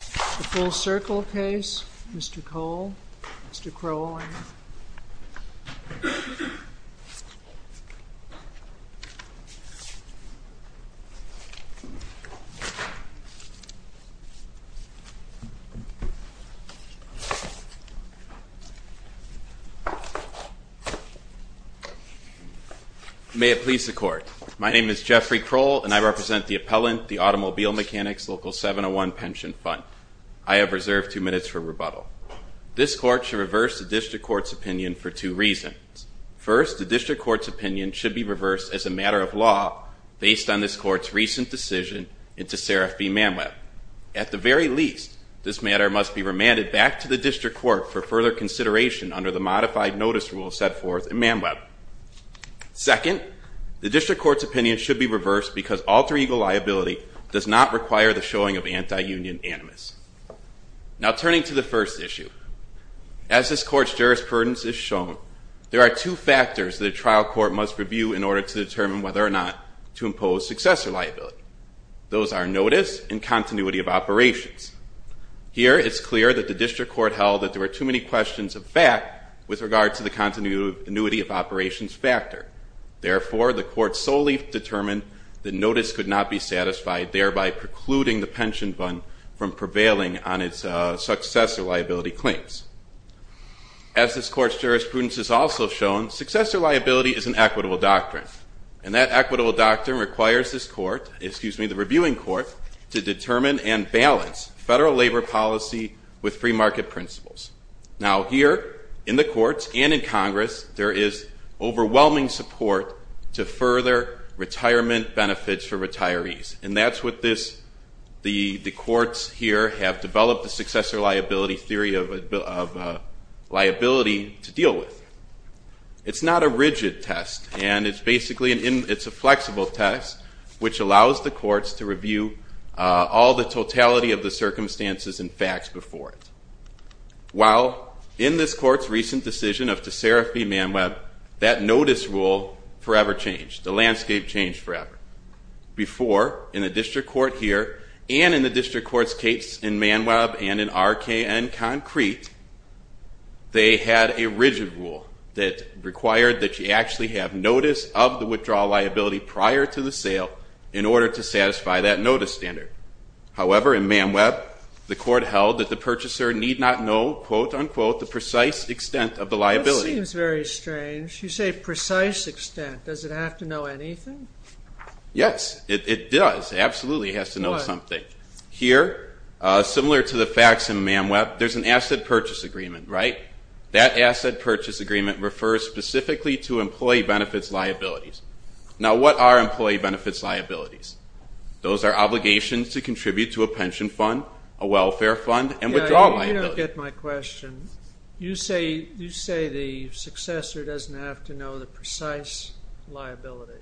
The Full Circle case, Mr. Kroll, Mr. Kroll. May it please the Court. My name is Jeffrey Kroll, and I represent the appellant, the Automobile Mechanics Local 701 Pension Fund. I have reserved two minutes for rebuttal. This Court should reverse the District Court's opinion for two reasons. First, the District Court's opinion should be reversed as a matter of law based on this Court's recent decision into Seraph B. Manweb. At the very least, this matter must be remanded back to the District Court for further consideration under the modified notice rule set forth in Manweb. Second, the District Court's opinion should be reversed because alter ego liability does not require the showing of anti-union animus. Now, turning to the first issue, as this Court's jurisprudence has shown, there are two factors that a trial court must review in order to determine whether or not to impose successor liability. Those are notice and continuity of operations. Here, it's clear that the District Court held that there were too many questions of fact with regard to the continuity of operations factor. Therefore, the Court solely determined that notice could not be satisfied, thereby precluding the pension fund from prevailing on its successor liability claims. As this Court's jurisprudence has also shown, successor liability is an equitable doctrine. And that equitable doctrine requires this court, excuse me, the reviewing court, to determine and balance federal labor policy with free market principles. Now, here in the courts and in Congress, there is overwhelming support to further retirement benefits for retirees. And that's what this, the courts here have developed the successor liability theory of liability to deal with. It's not a rigid test, and it's basically, it's a flexible test, which allows the courts to review all the totality of the circumstances and facts before it. While in this Court's recent decision of Tessera v. Manweb, that notice rule forever changed. The landscape changed forever. Before, in the District Court here and in the District Court's case in Manweb and in RKN Concrete, they had a rigid rule that required that you actually have notice of the withdrawal liability prior to the sale in order to satisfy that notice standard. However, in Manweb, the Court held that the purchaser need not know, quote, unquote, the precise extent of the liability. That seems very strange. You say precise extent. Does it have to know anything? Yes, it does. Absolutely, it has to know something. Why? Here, similar to the facts in Manweb, there's an asset purchase agreement, right? That asset purchase agreement refers specifically to employee benefits liabilities. Now, what are employee benefits liabilities? Those are obligations to contribute to a pension fund, a welfare fund, and withdrawal liability. You don't get my question. You say the successor doesn't have to know the precise liability.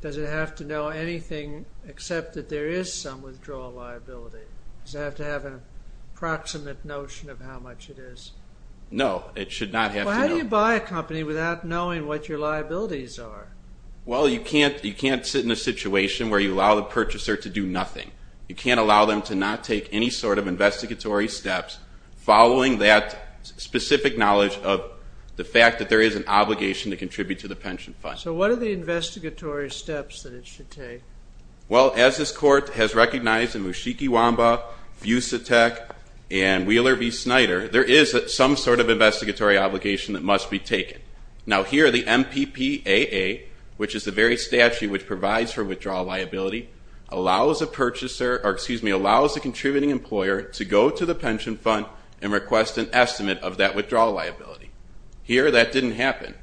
Does it have to know anything except that there is some withdrawal liability? Does it have to have an approximate notion of how much it is? No, it should not have to know. Well, how do you buy a company without knowing what your liabilities are? Well, you can't sit in a situation where you allow the purchaser to do nothing. You can't allow them to not take any sort of investigatory steps following that specific knowledge of the fact that there is an obligation to contribute to the pension fund. So what are the investigatory steps that it should take? Well, as this Court has recognized in Mushikiwamba, Fusatec, and Wheeler v. Snyder, there is some sort of investigatory obligation that must be taken. Now, here the MPPAA, which is the very statute which provides for withdrawal liability, allows the contributing employer to go to the pension fund and request an estimate of that withdrawal liability. Here, that didn't happen.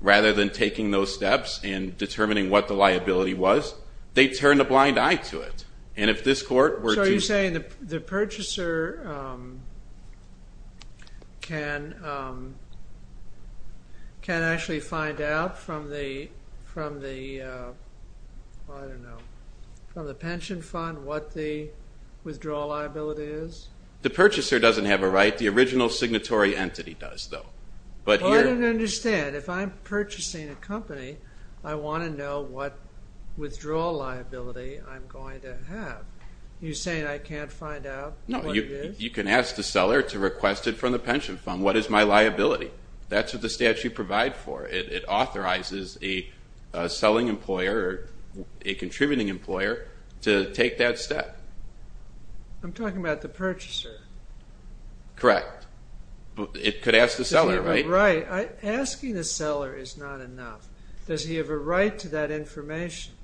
Rather than taking those steps and determining what the liability was, they turned a blind eye to it. So are you saying the purchaser can actually find out from the pension fund what the withdrawal liability is? The purchaser doesn't have a right. The original signatory entity does, though. I don't understand. If I'm purchasing a company, I want to know what withdrawal liability I'm going to have. Are you saying I can't find out what it is? No. You can ask the seller to request it from the pension fund. What is my liability? That's what the statute provides for. It authorizes a selling employer or a contributing employer to take that step. I'm talking about the purchaser. Correct. It could ask the seller, right? Right. Asking the seller is not enough. Does he have a right to that information,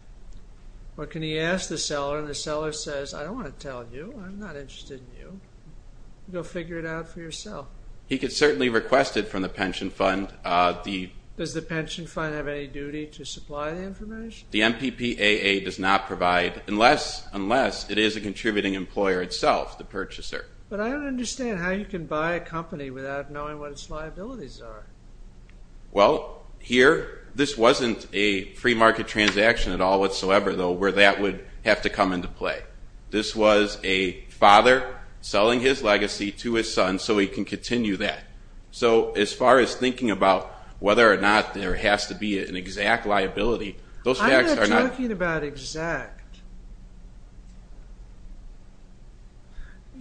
or can he ask the seller and the seller says, I don't want to tell you. I'm not interested in you. Go figure it out for yourself. He could certainly request it from the pension fund. Does the pension fund have any duty to supply the information? The MPPAA does not provide unless it is a contributing employer itself, the purchaser. But I don't understand how you can buy a company without knowing what its liabilities are. Well, here, this wasn't a free market transaction at all whatsoever, though, where that would have to come into play. This was a father selling his legacy to his son so he can continue that. So as far as thinking about whether or not there has to be an exact liability, those facts are not. I'm not talking about exact.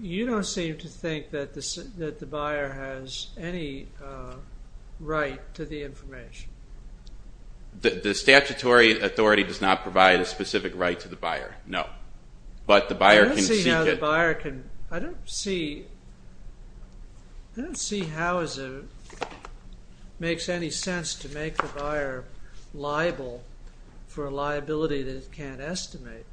You don't seem to think that the buyer has any right to the information. The statutory authority does not provide a specific right to the buyer, no. But the buyer can seek it. I don't see how the buyer can. for a liability that it can't estimate.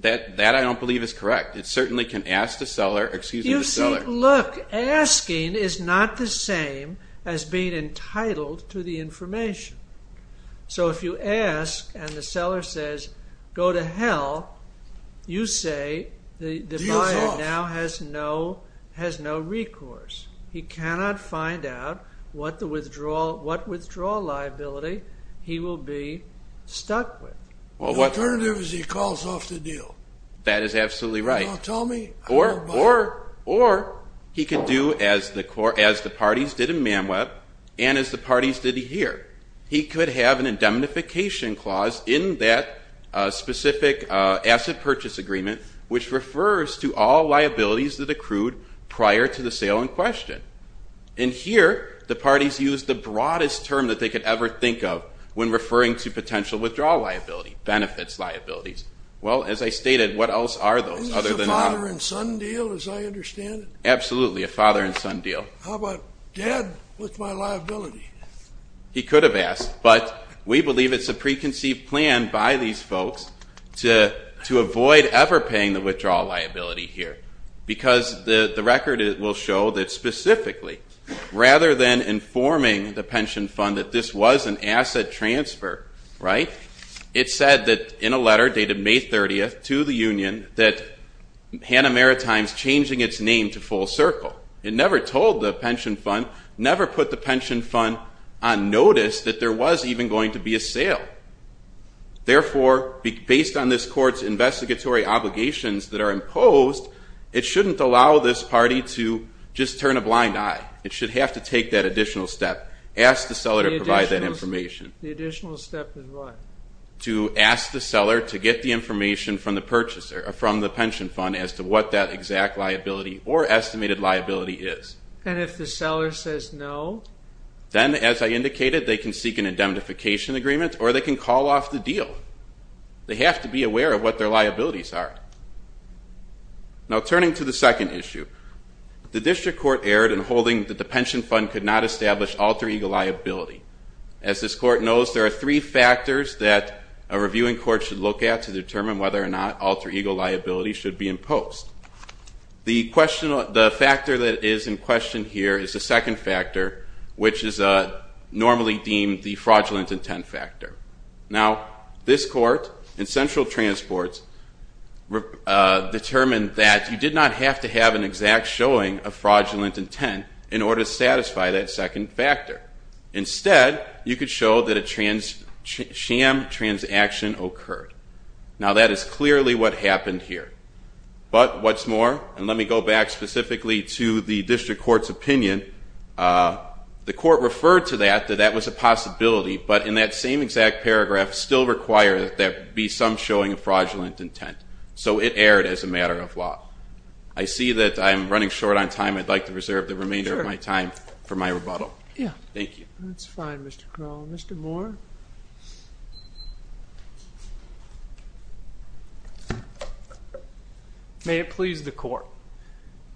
That I don't believe is correct. It certainly can ask the seller, excuse me, the seller. You see, look, asking is not the same as being entitled to the information. So if you ask and the seller says, go to hell, you say the buyer now has no recourse. He cannot find out what withdrawal liability he will be stuck with. The alternative is he calls off the deal. That is absolutely right. Or he could do as the parties did in Man Web and as the parties did here. He could have an indemnification clause in that specific asset purchase agreement which refers to all liabilities that accrued prior to the sale in question. And here the parties used the broadest term that they could ever think of when referring to potential withdrawal liability, benefits liabilities. Well, as I stated, what else are those other than that? Is this a father-and-son deal as I understand it? Absolutely, a father-and-son deal. How about dead with my liability? He could have asked. But we believe it's a preconceived plan by these folks to avoid ever paying the withdrawal liability here because the record will show that specifically, rather than informing the pension fund that this was an asset transfer, right, it said that in a letter dated May 30th to the union that Hanna Maritime is changing its name to Full Circle. It never told the pension fund, never put the pension fund on notice that there was even going to be a sale. Therefore, based on this court's investigatory obligations that are imposed, it shouldn't allow this party to just turn a blind eye. It should have to take that additional step, ask the seller to provide that information. The additional step is what? To ask the seller to get the information from the pension fund as to what that exact liability or estimated liability is. And if the seller says no? Then, as I indicated, they can seek an indemnification agreement or they can call off the deal. They have to be aware of what their liabilities are. Now turning to the second issue, the district court erred in holding that the pension fund could not establish alter ego liability. As this court knows, there are three factors that a reviewing court should look at to determine whether or not alter ego liability should be imposed. The factor that is in question here is the second factor, which is normally deemed the fraudulent intent factor. Now this court in central transports determined that you did not have to have an exact showing of fraudulent intent in order to satisfy that second factor. Instead, you could show that a sham transaction occurred. Now that is clearly what happened here. But what's more, and let me go back specifically to the district court's opinion, the court referred to that, that that was a possibility, but in that same exact paragraph still required that there be some showing of fraudulent intent. So it erred as a matter of law. I see that I'm running short on time. I'd like to reserve the remainder of my time for my rebuttal. Thank you. That's fine, Mr. Crowell. Mr. Moore? May it please the court.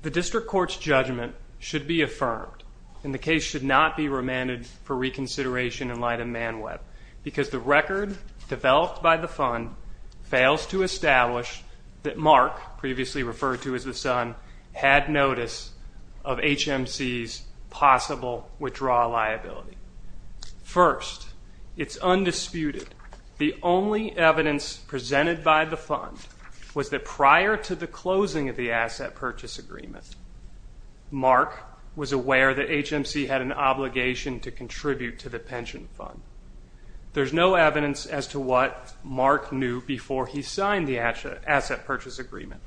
The district court's judgment should be affirmed, and the case should not be remanded for reconsideration in light of Man Web because the record developed by the fund fails to establish that Mark, previously referred to as the son, had notice of HMC's possible withdrawal liability. First, it's undisputed the only evidence presented by the fund was that prior to the closing of the asset purchase agreement, Mark was aware that HMC had an obligation to contribute to the pension fund. There's no evidence as to what Mark knew before he signed the asset purchase agreement.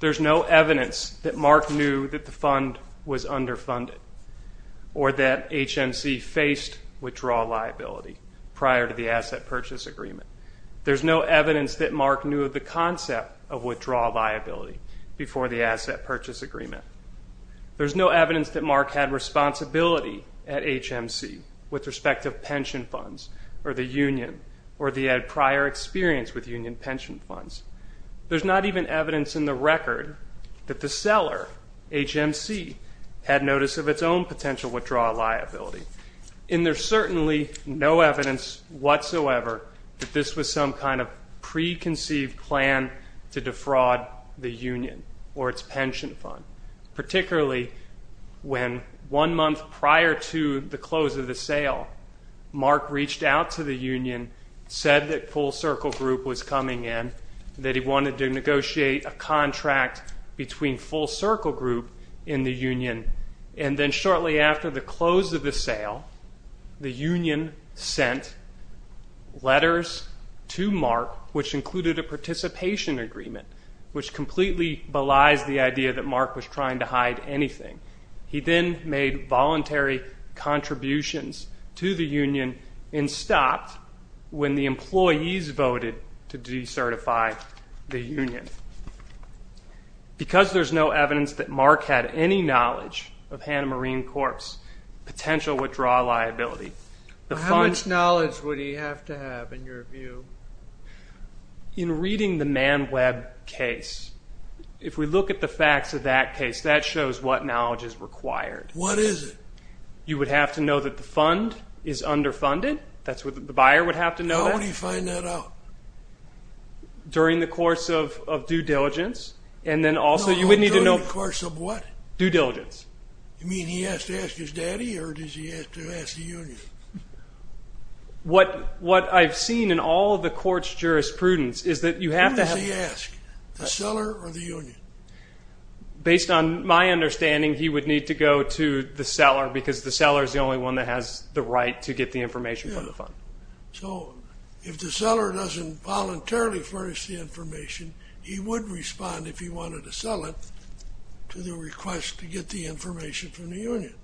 There's no evidence that Mark knew that the fund was underfunded or that HMC faced withdrawal liability prior to the asset purchase agreement. There's no evidence that Mark knew of the concept of withdrawal liability before the asset purchase agreement. There's no evidence that Mark had responsibility at HMC with respect to pension funds or the union or the prior experience with union pension funds. There's not even evidence in the record that the seller, HMC, had notice of its own potential withdrawal liability, and there's certainly no evidence whatsoever that this was some kind of preconceived plan to defraud the union or its pension fund, particularly when one month prior to the close of the sale, Mark reached out to the union, said that Full Circle Group was coming in, that he wanted to negotiate a contract between Full Circle Group and the union, and then shortly after the close of the sale, the union sent letters to Mark, which included a participation agreement, which completely belies the idea that Mark was trying to hide anything. He then made voluntary contributions to the union and stopped when the employees voted to decertify the union. Because there's no evidence that Mark had any knowledge of HMC's potential withdrawal liability. How much knowledge would he have to have, in your view? In reading the Man Web case, if we look at the facts of that case, that shows what knowledge is required. What is it? You would have to know that the fund is underfunded. That's what the buyer would have to know. How would he find that out? During the course of due diligence? No, during the course of what? Due diligence. You mean he has to ask his daddy, or does he have to ask the union? What I've seen in all of the court's jurisprudence is that you have to have— Who does he ask, the seller or the union? Based on my understanding, he would need to go to the seller, because the seller is the only one that has the right to get the information from the fund. So if the seller doesn't voluntarily furnish the information, he would respond, if he wanted to sell it, to the request to get the information from the union.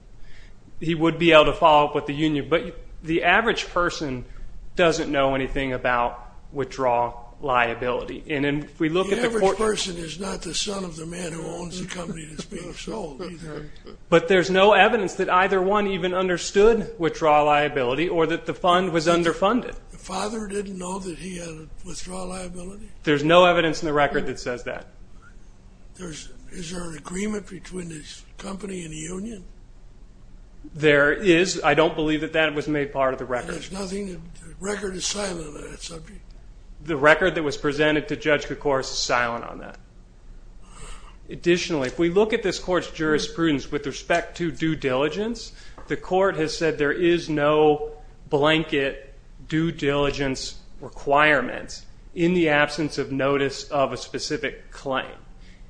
He would be able to follow up with the union. But the average person doesn't know anything about withdrawal liability. And if we look at the court— The average person is not the son of the man who owns the company that's being sold, either. But there's no evidence that either one even understood withdrawal liability or that the fund was underfunded. The father didn't know that he had withdrawal liability? There's no evidence in the record that says that. Is there an agreement between his company and the union? There is. I don't believe that that was made part of the record. And there's nothing—the record is silent on that subject? The record that was presented to Judge Kocouris is silent on that. Additionally, if we look at this court's jurisprudence with respect to due diligence, the court has said there is no blanket due diligence requirement in the absence of notice of a specific claim.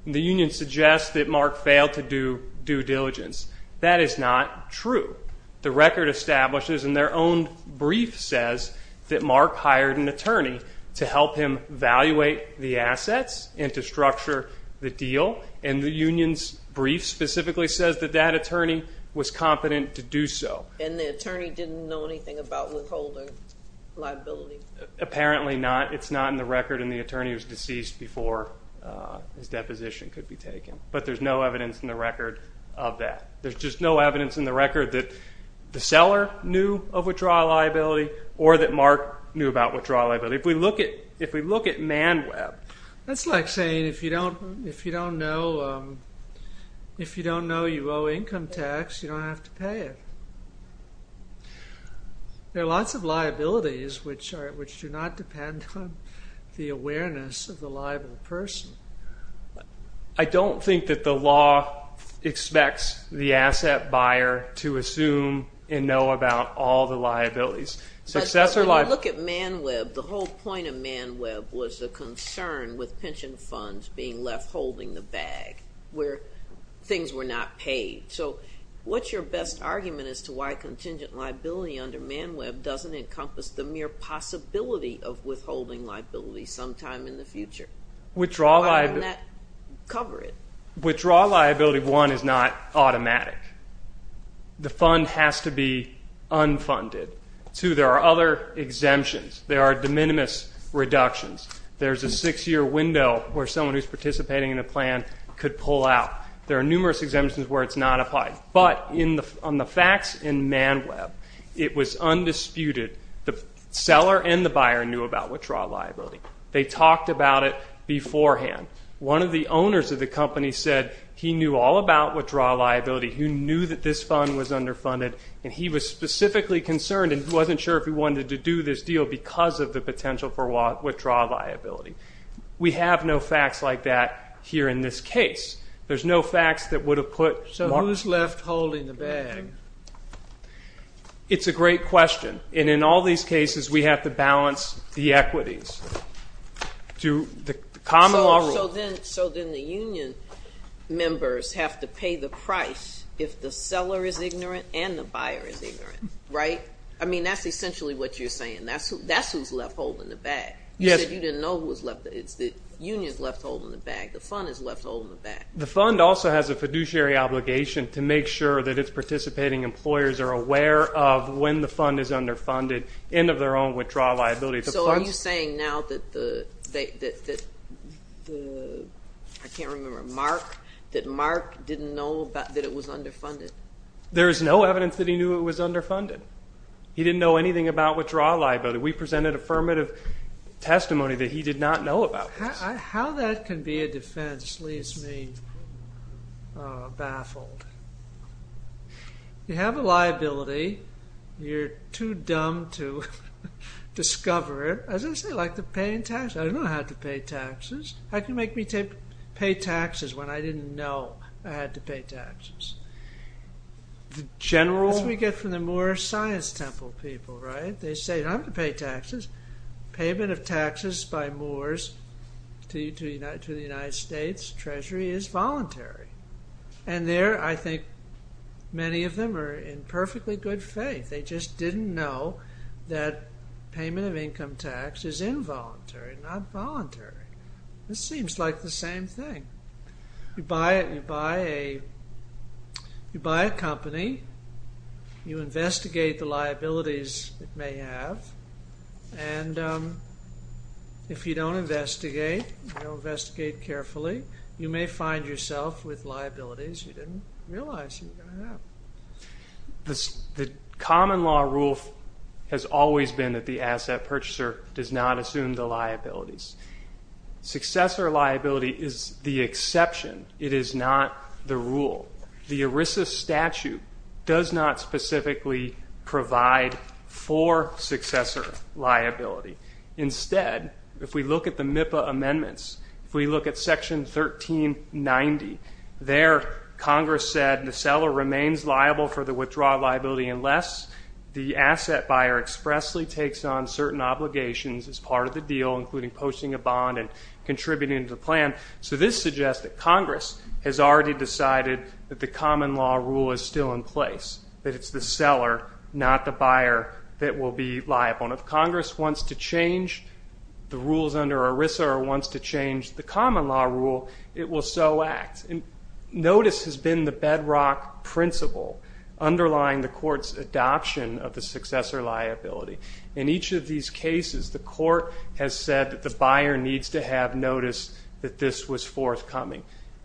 The union suggests that Mark failed to do due diligence. That is not true. The record establishes, and their own brief says, that Mark hired an attorney to help him evaluate the assets and to structure the deal. And the union's brief specifically says that that attorney was competent to do so. And the attorney didn't know anything about withholding liability? Apparently not. It's not in the record, and the attorney was deceased before his deposition could be taken. But there's no evidence in the record of that. There's just no evidence in the record that the seller knew of withdrawal liability or that Mark knew about withdrawal liability. If we look at ManWeb. That's like saying if you don't know you owe income tax, you don't have to pay it. There are lots of liabilities which do not depend on the awareness of the liable person. I don't think that the law expects the asset buyer to assume and know about all the liabilities. But when you look at ManWeb, the whole point of ManWeb was the concern with pension funds being left holding the bag where things were not paid. So what's your best argument as to why contingent liability under ManWeb doesn't encompass the mere possibility of withholding liability sometime in the future? Why wouldn't that cover it? Withdrawal liability, one, is not automatic. The fund has to be unfunded. Two, there are other exemptions. There are de minimis reductions. There's a six-year window where someone who's participating in a plan could pull out. There are numerous exemptions where it's not applied. But on the facts in ManWeb, it was undisputed. The seller and the buyer knew about withdrawal liability. They talked about it beforehand. One of the owners of the company said he knew all about withdrawal liability. He knew that this fund was underfunded, and he was specifically concerned and wasn't sure if he wanted to do this deal because of the potential for withdrawal liability. We have no facts like that here in this case. There's no facts that would have put. So who's left holding the bag? It's a great question. And in all these cases, we have to balance the equities to the common law rule. So then the union members have to pay the price if the seller is ignorant and the buyer is ignorant, right? I mean, that's essentially what you're saying. That's who's left holding the bag. You said you didn't know who was left. The union's left holding the bag. The fund is left holding the bag. The fund also has a fiduciary obligation to make sure that its participating employers are aware of when the fund is underfunded and of their own withdrawal liability. So are you saying now that the, I can't remember, Mark, that Mark didn't know that it was underfunded? There is no evidence that he knew it was underfunded. He didn't know anything about withdrawal liability. We presented affirmative testimony that he did not know about this. How that can be a defense leaves me baffled. You have a liability. You're too dumb to discover it. As I say, like the paying taxes. I don't know how to pay taxes. How can you make me pay taxes when I didn't know I had to pay taxes? The general, as we get from the Moore Science Temple people, right? They say, I'm going to pay taxes. Payment of taxes by Moores to the United States Treasury is voluntary. And there I think many of them are in perfectly good faith. They just didn't know that payment of income tax is involuntary, not voluntary. This seems like the same thing. You buy a company. You investigate the liabilities it may have. And if you don't investigate, you don't investigate carefully, you may find yourself with liabilities you didn't realize you have. The common law rule has always been that the asset purchaser does not assume the liabilities. Successor liability is the exception. It is not the rule. The ERISA statute does not specifically provide for successor liability. Instead, if we look at the MIPA amendments, if we look at Section 1390, there Congress said the seller remains liable for the withdrawal liability unless the asset buyer expressly takes on certain obligations as part of the deal, including posting a bond and contributing to the plan. So this suggests that Congress has already decided that the common law rule is still in place, that it's the seller, not the buyer, that will be liable. And if Congress wants to change the rules under ERISA or wants to change the common law rule, it will so act. Notice has been the bedrock principle underlying the court's adoption of the successor liability. In each of these cases, the court has said that the buyer needs to have noticed that this was forthcoming.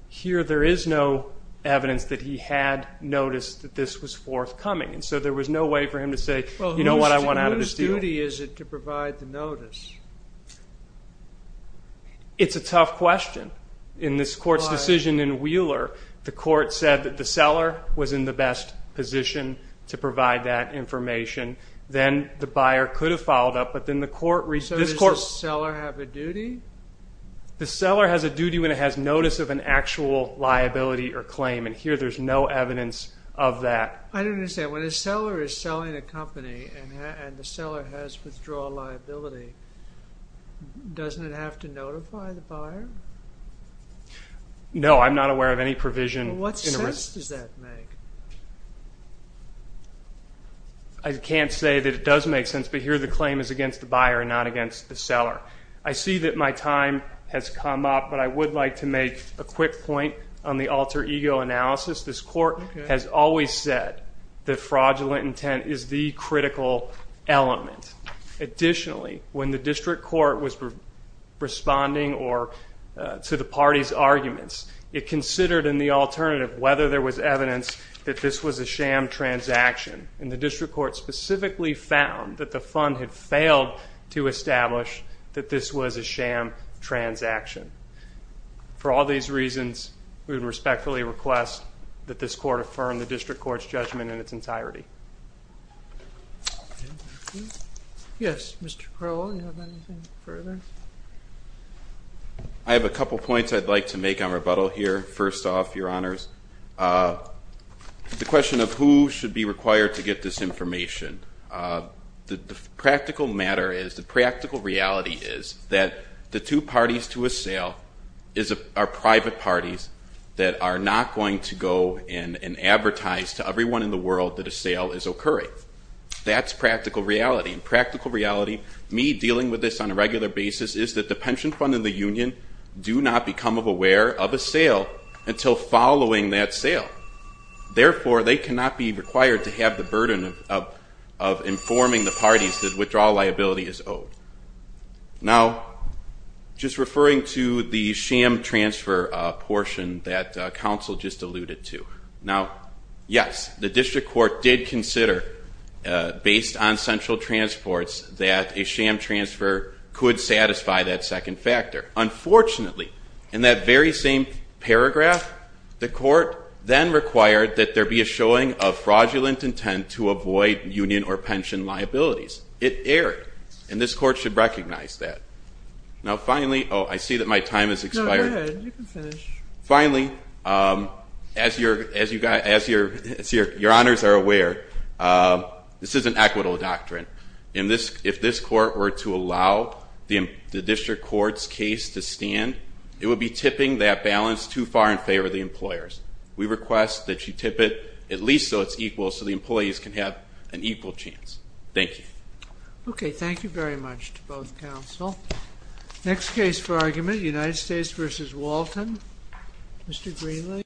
Here there is no evidence that he had noticed that this was forthcoming, and so there was no way for him to say, you know what, I want out of this deal. Whose duty is it to provide the notice? It's a tough question. In this court's decision in Wheeler, the court said that the seller was in the best position to provide that information. Then the buyer could have followed up, but then the court reached this court. So does the seller have a duty? The seller has a duty when it has notice of an actual liability or claim, and here there's no evidence of that. I don't understand. When a seller is selling a company and the seller has withdrawal liability, doesn't it have to notify the buyer? No, I'm not aware of any provision. What sense does that make? I can't say that it does make sense, but here the claim is against the buyer and not against the seller. I see that my time has come up, but I would like to make a quick point on the alter ego analysis. This court has always said that fraudulent intent is the critical element. Additionally, when the district court was responding to the party's arguments, it considered in the alternative whether there was evidence that this was a sham transaction, and the district court specifically found that the fund had failed to establish that this was a sham transaction. For all these reasons, we would respectfully request that this court affirm the district court's judgment in its entirety. Yes, Mr. Crowell, do you have anything further? I have a couple points I'd like to make on rebuttal here. First off, Your Honors, the question of who should be required to get this information, the practical matter is, the practical reality is that the two parties to a sale are private parties that are not going to go and advertise to everyone in the world that a sale is occurring. That's practical reality, and practical reality, me dealing with this on a regular basis, is that the pension fund and the union do not become aware of a sale until following that sale. Therefore, they cannot be required to have the burden of informing the parties that withdrawal liability is owed. Now, just referring to the sham transfer portion that counsel just alluded to, now, yes, the district court did consider, based on central transports, that a sham transfer could satisfy that second factor. Unfortunately, in that very same paragraph, the court then required that there be a showing of fraudulent intent to avoid union or pension liabilities. It erred, and this court should recognize that. Now, finally, oh, I see that my time has expired. No, go ahead. You can finish. Finally, as Your Honors are aware, this is an equitable doctrine. If this court were to allow the district court's case to stand, it would be tipping that balance too far in favor of the employers. We request that you tip it at least so it's equal so the employees can have an equal chance. Thank you. Okay, thank you very much to both counsel. Next case for argument, United States v. Walton. Mr. Greenlee.